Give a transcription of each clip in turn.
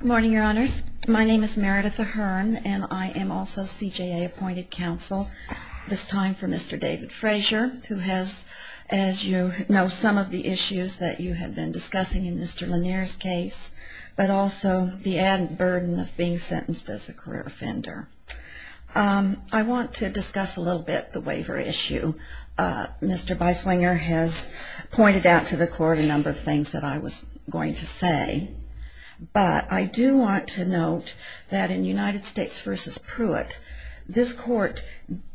Good morning, your honors. My name is Meredith Ahern and I am also CJA appointed counsel, this time for Mr. David Frazier, who has, as you know, some of the issues that you have been discussing in Mr. Lanier's case, but also the added burden of being sentenced as a career offender. I want to discuss a little bit the waiver issue. Mr. Beiswinger has pointed out to the court a number of things that I was going to say, but I do want to note that in United States v. Pruitt, this court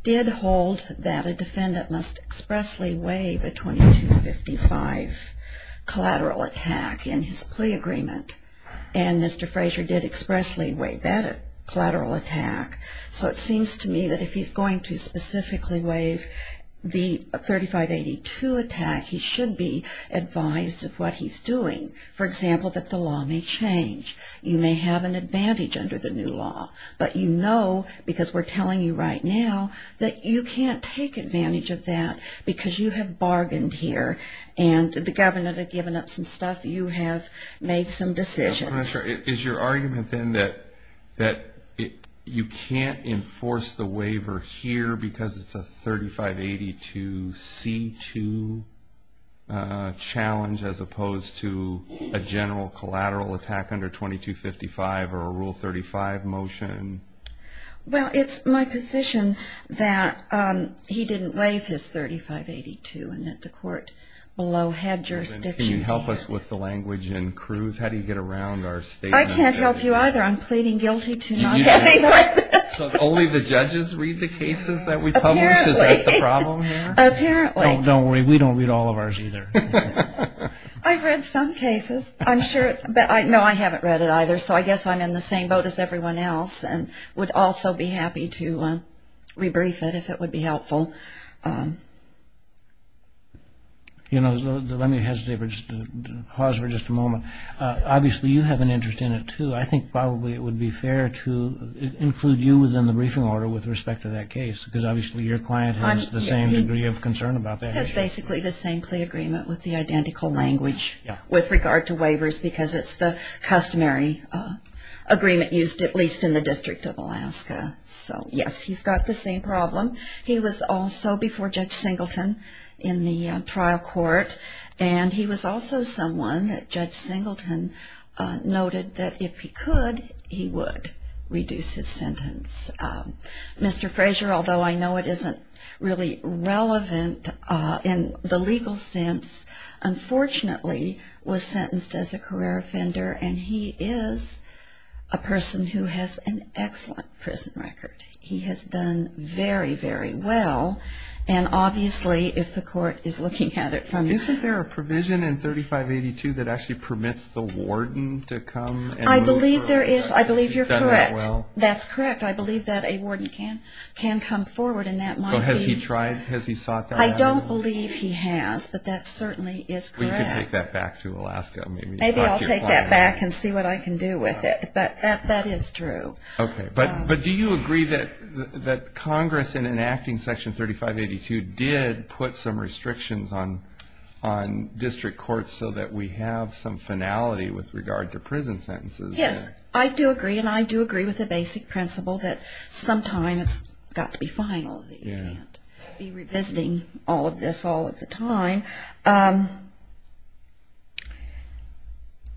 did hold that a defendant must expressly waive a 2255 collateral attack in his plea agreement, and Mr. Frazier did expressly waive that collateral attack. So it seems to me that if he's going to specifically waive the 3582 attack, he should be advised of what he's doing. For example, that the law may change. You may have an advantage under the new law, but you know, because we're telling you right now, that you can't take advantage of that because you have bargained here and the governor had given up some stuff. You have made some decisions. Is your argument then that you can't enforce the waiver here because it's a 3582C2 challenge as opposed to a general collateral attack under 2255 or a Rule 35 motion? Well, it's my position that he didn't waive his 3582 and that the court below had jurisdiction. Can you help us with the language in Cruz? How do you get around our statement? I can't help you either. I'm pleading guilty to not getting on this. So only the judges read the cases that we publish? Is that the problem here? Apparently. Don't worry. We don't read all of ours either. I've read some cases. No, I haven't read it either. So I guess I'm in the same boat as everyone else and would also be happy to rebrief it if it would be helpful. You know, let me pause for just a moment. Obviously, you have an interest in it too. I think probably it would be fair to include you within the briefing order with respect to that case because obviously your client has the same degree of concern about that. It's basically the same plea agreement with the identical language with regard to waivers because it's the customary agreement used at least in the District of Alaska. So, yes, he's got the same problem. He was also before Judge Singleton in the trial court. And he was also someone that Judge Singleton noted that if he could, he would reduce his sentence. Mr. Frazier, although I know it isn't really relevant in the legal sense, unfortunately, was sentenced as a career offender and he is a person who has an excellent prison record. He has done very, very well. And obviously, if the court is looking at it from... Isn't there a provision in 3582 that actually permits the warden to come and... I believe there is. I believe you're correct. That's correct. I believe that a warden can come forward and that might be... Has he tried? Has he sought that out? I don't believe he has, but that certainly is correct. Well, you can take that back to Alaska. Maybe I'll take that back and see what I can do with it. But that is true. Okay. But do you agree that Congress, in enacting Section 3582, did put some restrictions on district courts so that we have some finality with regard to prison sentences? Yes, I do agree. And I do agree with the basic principle that sometimes it's got to be finality. You can't be revisiting all of this all of the time.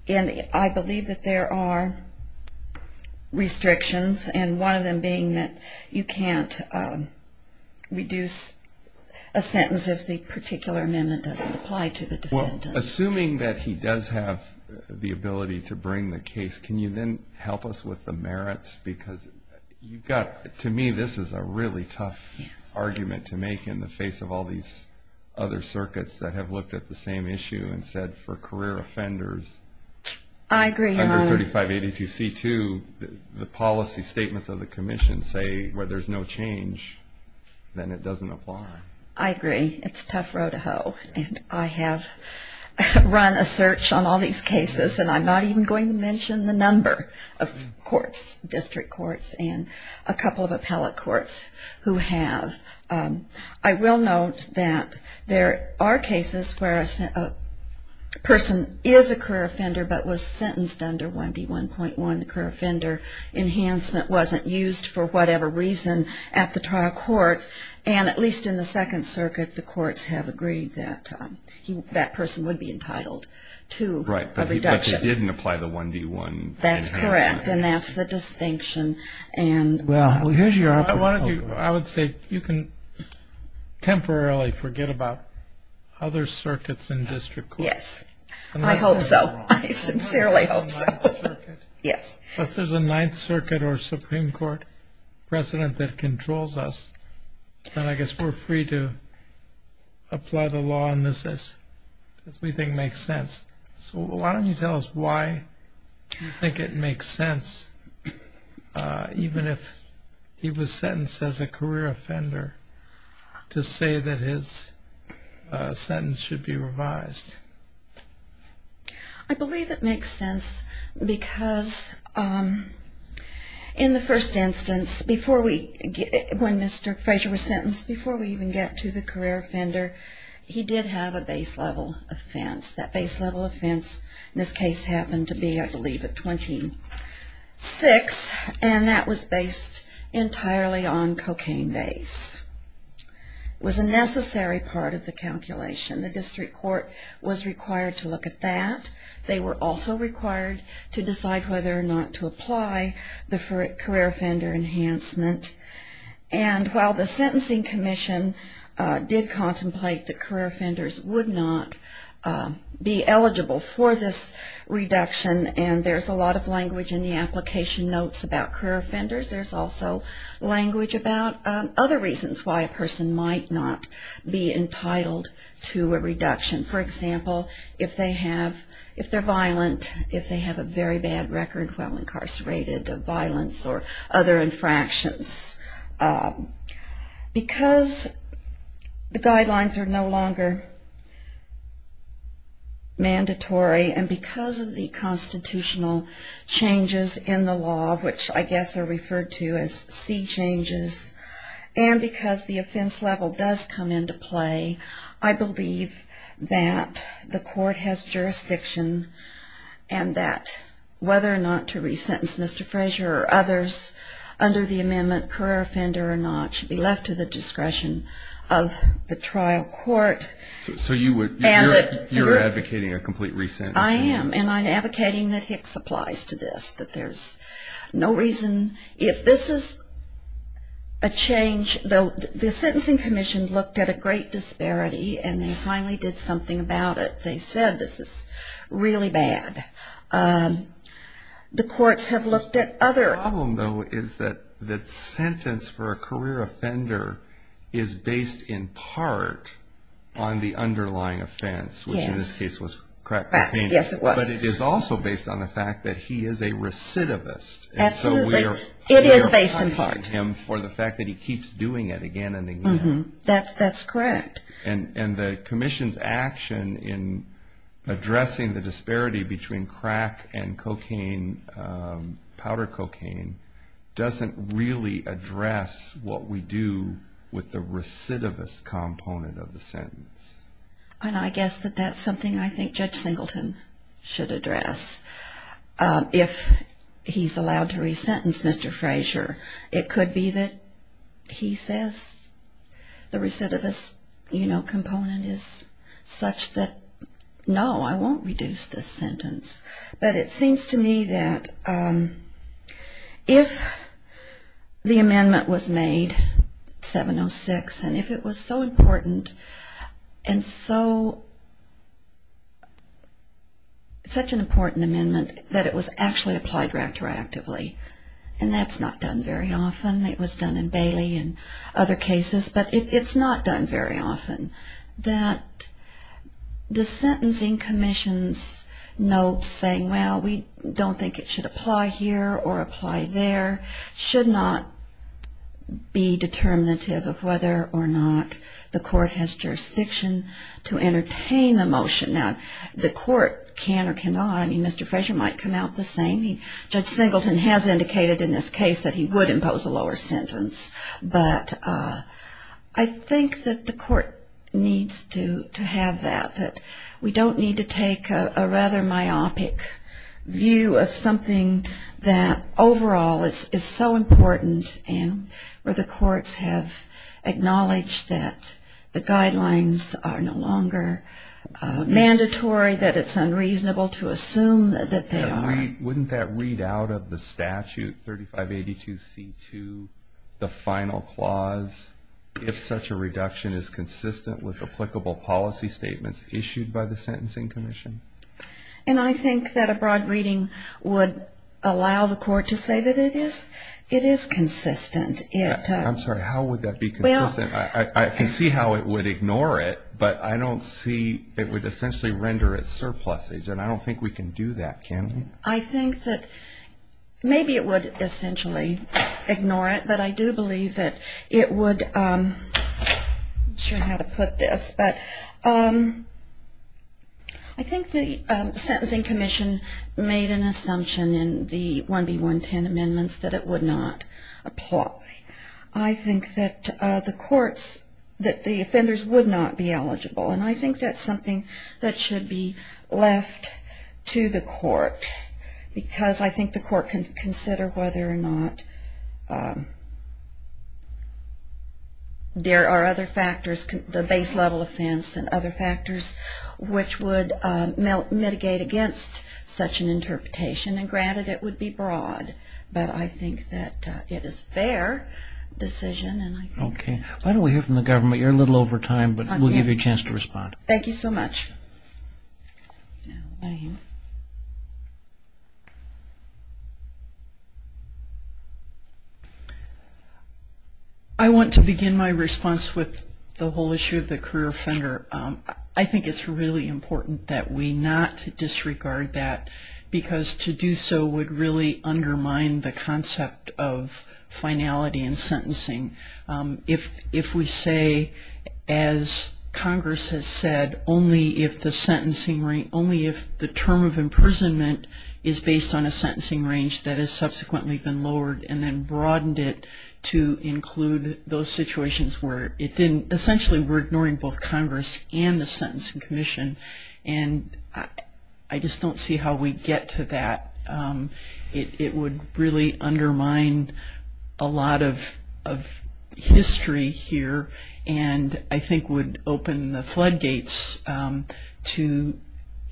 And I believe that there are restrictions, and one of them being that you can't reduce a sentence if the particular amendment doesn't apply to the defendant. Assuming that he does have the ability to bring the case, can you then help us with the merits? Because you've got... To me, this is a really tough argument to make in the face of all these other circuits that have looked at the same issue and said, for career offenders under 3582C2, the policy statements of the Commission say where there's no change, then it doesn't apply. I agree. It's a tough row to hoe. And I have run a search on all these cases, and I'm not even going to mention the number of courts, district courts, and a couple of appellate courts who have. I will note that there are cases where a person is a career offender but was sentenced under 1D1.1, and the career offender enhancement wasn't used for whatever reason at the trial court, and at least in the Second Circuit, the courts have agreed that that person would be entitled to a reduction. Right, but they didn't apply the 1D1. That's correct, and that's the distinction. I would say you can temporarily forget about other circuits in district courts. Yes, I hope so. I sincerely hope so. Unless there's a Ninth Circuit or Supreme Court precedent that controls us, then I guess we're free to apply the law on this as we think makes sense. So why don't you tell us why you think it makes sense, even if he was sentenced as a career offender, to say that his sentence should be revised? I believe it makes sense because in the first instance, when Mr. Frazier was sentenced, before we even get to the career offender, he did have a base level offense. That base level offense in this case happened to be, I believe, at 26, and that was based entirely on cocaine base. It was a necessary part of the calculation. The district court was required to look at that. They were also required to decide whether or not to apply the career offender enhancement, and while the Sentencing Commission did contemplate that career offenders would not be eligible for this reduction, and there's a lot of language in the application notes about career offenders, there's also language about other reasons why a person might not be entitled to a reduction. For example, if they're violent, if they have a very bad record while incarcerated of violence or other infractions. Because the guidelines are no longer mandatory and because of the constitutional changes in the law, which I guess are referred to as C changes, and because the offense level does come into play, I believe that the court has jurisdiction and that whether or not to resentence Mr. Frazier or others under the amendment, career offender or not, should be left to the discretion of the trial court. So you're advocating a complete resentence? I am, and I'm advocating that Hicks applies to this, that there's no reason. If this is a change, though the Sentencing Commission looked at a great disparity and they finally did something about it. They said this is really bad. The courts have looked at other... The problem, though, is that the sentence for a career offender is based in part on the underlying offense, which in this case was crack cocaine. Yes, it was. But it is also based on the fact that he is a recidivist. Absolutely. It is based in part. And so we are highlighting him for the fact that he keeps doing it again and again. That's correct. And the commission's action in addressing the disparity between crack and cocaine, powder cocaine, doesn't really address what we do with the recidivist component of the sentence. And I guess that that's something I think Judge Singleton should address. If he's allowed to resentence Mr. Frazier, it could be that he says the recidivist component is such that, no, I won't reduce this sentence. But it seems to me that if the amendment was made, 706, and if it was so important and such an important amendment that it was actually applied retroactively, and that's not done very often, it was done in Bailey and other cases, but it's not done very often, that the sentencing commission's note saying, well, we don't think it should apply here or apply there, should not be determinative of whether or not the court has jurisdiction to entertain a motion. Now, the court can or cannot. I mean, Mr. Frazier might come out the same. Judge Singleton has indicated in this case that he would impose a lower sentence. But I think that the court needs to have that, that we don't need to take a rather myopic view of something that overall is so important and where the courts have acknowledged that the guidelines are no longer mandatory, that it's unreasonable to assume that they are. Wouldn't that read out of the statute, 3582C2, the final clause, if such a reduction is consistent with applicable policy statements issued by the sentencing commission? And I think that a broad reading would allow the court to say that it is. It is consistent. I'm sorry, how would that be consistent? I can see how it would ignore it, but I don't see it would essentially render it surplus. And I don't think we can do that, can we? I think that maybe it would essentially ignore it, but I do believe that it would, I'm not sure how to put this, but I think the sentencing commission made an assumption in the 1B110 amendments that it would not apply. I think that the courts, that the offenders would not be eligible. And I think that's something that should be left to the court, because I think the court can consider whether or not there are other factors, the base level offense and other factors, which would mitigate against such an interpretation. And granted, it would be broad, but I think that it is a fair decision. Okay. Why don't we hear from the government? You're a little over time, but we'll give you a chance to respond. Thank you so much. I want to begin my response with the whole issue of the career offender. I think it's really important that we not disregard that, because to do so would really undermine the concept of finality in sentencing. If we say, as Congress has said, only if the term of imprisonment is based on a sentencing range that has subsequently been lowered and then broadened it to include those situations where it didn't, essentially we're ignoring both Congress and the sentencing commission. And I just don't see how we get to that. It would really undermine a lot of history here, and I think would open the floodgates to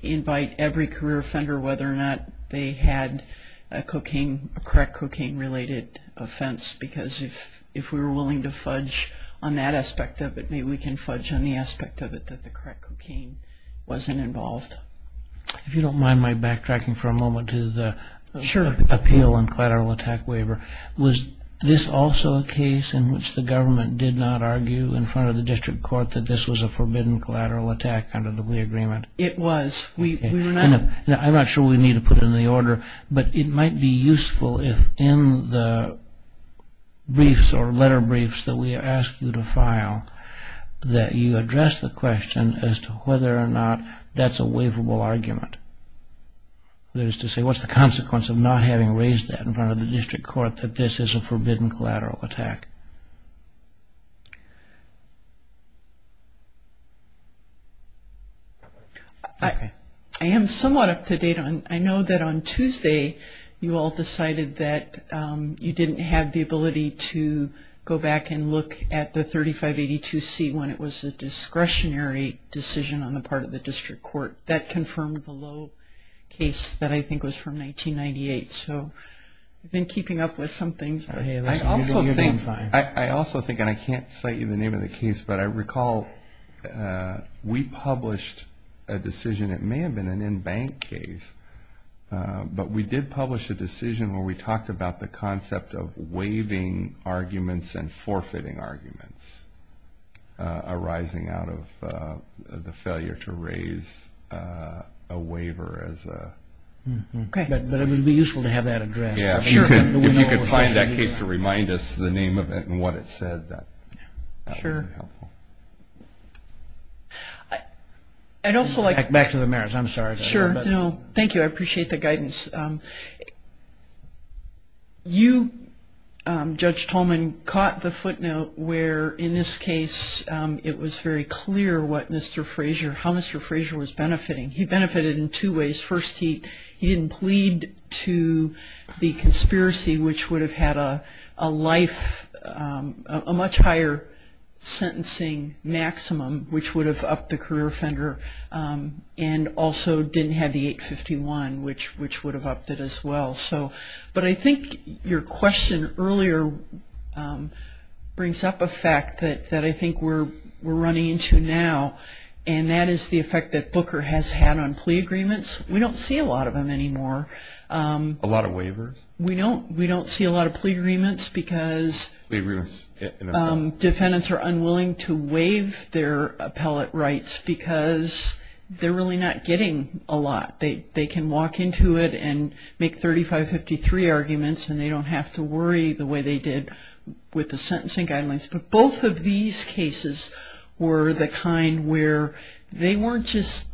invite every career offender whether or not they had a crack cocaine-related offense, because if we were willing to fudge on that aspect of it, maybe we can fudge on the aspect of it that the crack cocaine wasn't involved. If you don't mind my backtracking for a moment to the appeal and collateral attack waiver, was this also a case in which the government did not argue in front of the district court that this was a forbidden collateral attack under the Lee Agreement? It was. I'm not sure we need to put it in the order, but it might be useful if in the briefs or letter briefs that we ask you to file that you address the question as to whether or not that's a waivable argument. That is to say, what's the consequence of not having raised that in front of the district court that this is a forbidden collateral attack? I am somewhat up to date. I know that on Tuesday you all decided that you didn't have the ability to go back and look at the 3582C when it was a discretionary decision on the part of the district court. That confirmed the low case that I think was from 1998. So we've been keeping up with some things. I also think, and I can't cite you the name of the case, but I recall we published a decision. It may have been an in-bank case, but we did publish a decision where we talked about the concept of waiving arguments and forfeiting arguments arising out of the failure to raise a waiver. But it would be useful to have that addressed. If you could find that case to remind us the name of it and what it said, that would be helpful. Back to the merits. I'm sorry. Thank you. I appreciate the guidance. You, Judge Tolman, caught the footnote where, in this case, it was very clear how Mr. Frazier was benefiting. He benefited in two ways. First, he didn't plead to the conspiracy, which would have had a life, a much higher sentencing maximum, which would have upped the career offender, and also didn't have the 851, which would have upped it as well. But I think your question earlier brings up a fact that I think we're running into now, and that is the effect that Booker has had on plea agreements. We don't see a lot of them anymore. A lot of waivers? We don't see a lot of plea agreements because defendants are unwilling to waive their appellate rights because they're really not getting a lot. They can walk into it and make 3553 arguments and they don't have to worry the way they did with the sentencing guidelines. But both of these cases were the kind where they weren't just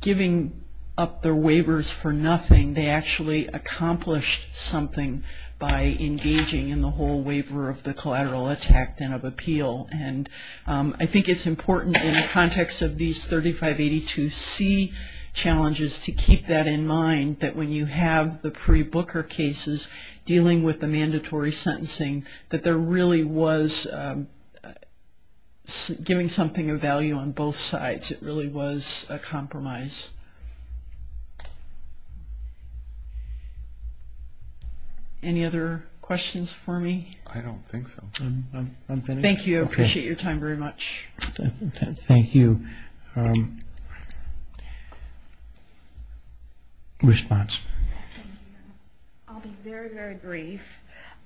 giving up their waivers for nothing. They actually accomplished something by engaging in the whole waiver of the collateral attack then of appeal. And I think it's important in the context of these 3582C challenges to keep that in mind, that when you have the pre-Booker cases dealing with the mandatory sentencing, that there really was giving something of value on both sides. It really was a compromise. Any other questions for me? I don't think so. Thank you. I appreciate your time very much. Thank you. Response. I'll be very, very brief.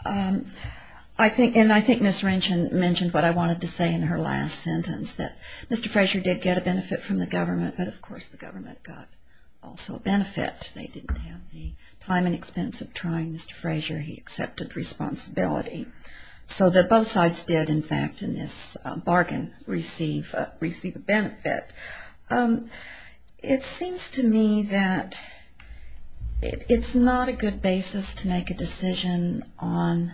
And I think Ms. Ranchin mentioned what I wanted to say in her last sentence, that Mr. Frazier did get a benefit from the government, but of course the government got also a benefit. They didn't have the time and expense of trying Mr. Frazier. He accepted responsibility. So that both sides did, in fact, in this bargain, receive a benefit. It seems to me that it's not a good basis to make a decision on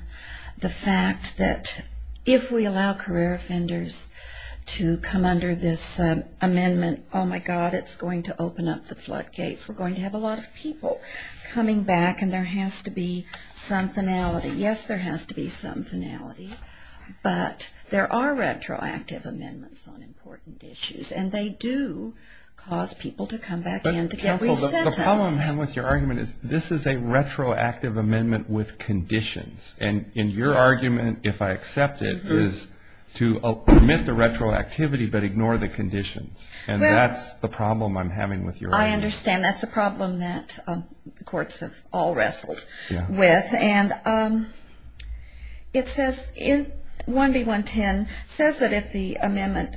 the fact that if we allow career offenders to come under this amendment, oh, my God, it's going to open up the floodgates. We're going to have a lot of people coming back, and there has to be some finality. But there are retroactive amendments on important issues, and they do cause people to come back in to get resentenced. Counsel, the problem I have with your argument is this is a retroactive amendment with conditions. And your argument, if I accept it, is to permit the retroactivity but ignore the conditions. And that's the problem I'm having with your argument. I understand. That's a problem that the courts have all wrestled with. And it says in 1B110, it says that if the amendment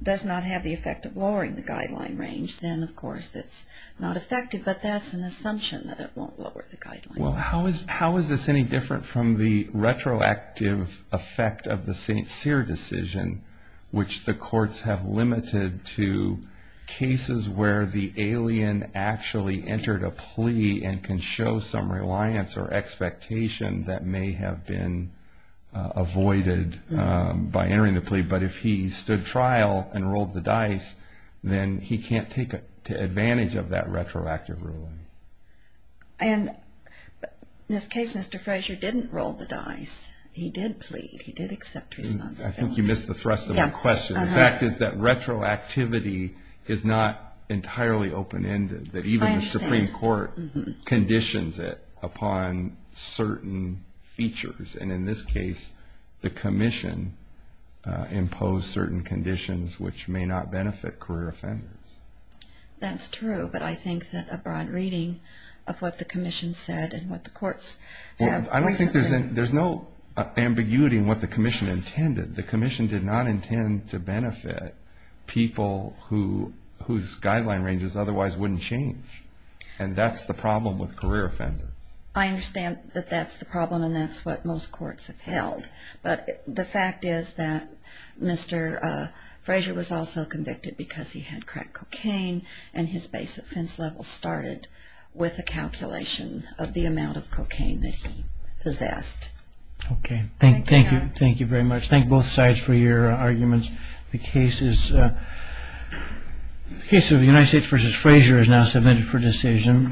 does not have the effect of lowering the guideline range, then, of course, it's not effective, but that's an assumption that it won't lower the guideline. Well, how is this any different from the retroactive effect of the St. Cyr decision, which the courts have limited to cases where the alien actually entered a plea and can show some reliance or expectation that may have been avoided by entering the plea. But if he stood trial and rolled the dice, then he can't take advantage of that retroactive ruling. And in this case, Mr. Frazier didn't roll the dice. He did plead. He did accept responsibility. I think you missed the thrust of my question. The fact is that retroactivity is not entirely open-ended, that even the Supreme Court conditions it upon certain features. And in this case, the commission imposed certain conditions which may not benefit career offenders. That's true, but I think that a broad reading of what the commission said and what the courts have... I don't think there's no ambiguity in what the commission intended. The commission did not intend to benefit people whose guideline ranges otherwise wouldn't change. And that's the problem with career offenders. I understand that that's the problem and that's what most courts have held. But the fact is that Mr. Frazier was also convicted because he had cracked cocaine and his base offense level started with a calculation of the amount of cocaine that he possessed. Okay. Thank you very much. Thank you both sides for your arguments. The case of the United States v. Frazier is now submitted for decision.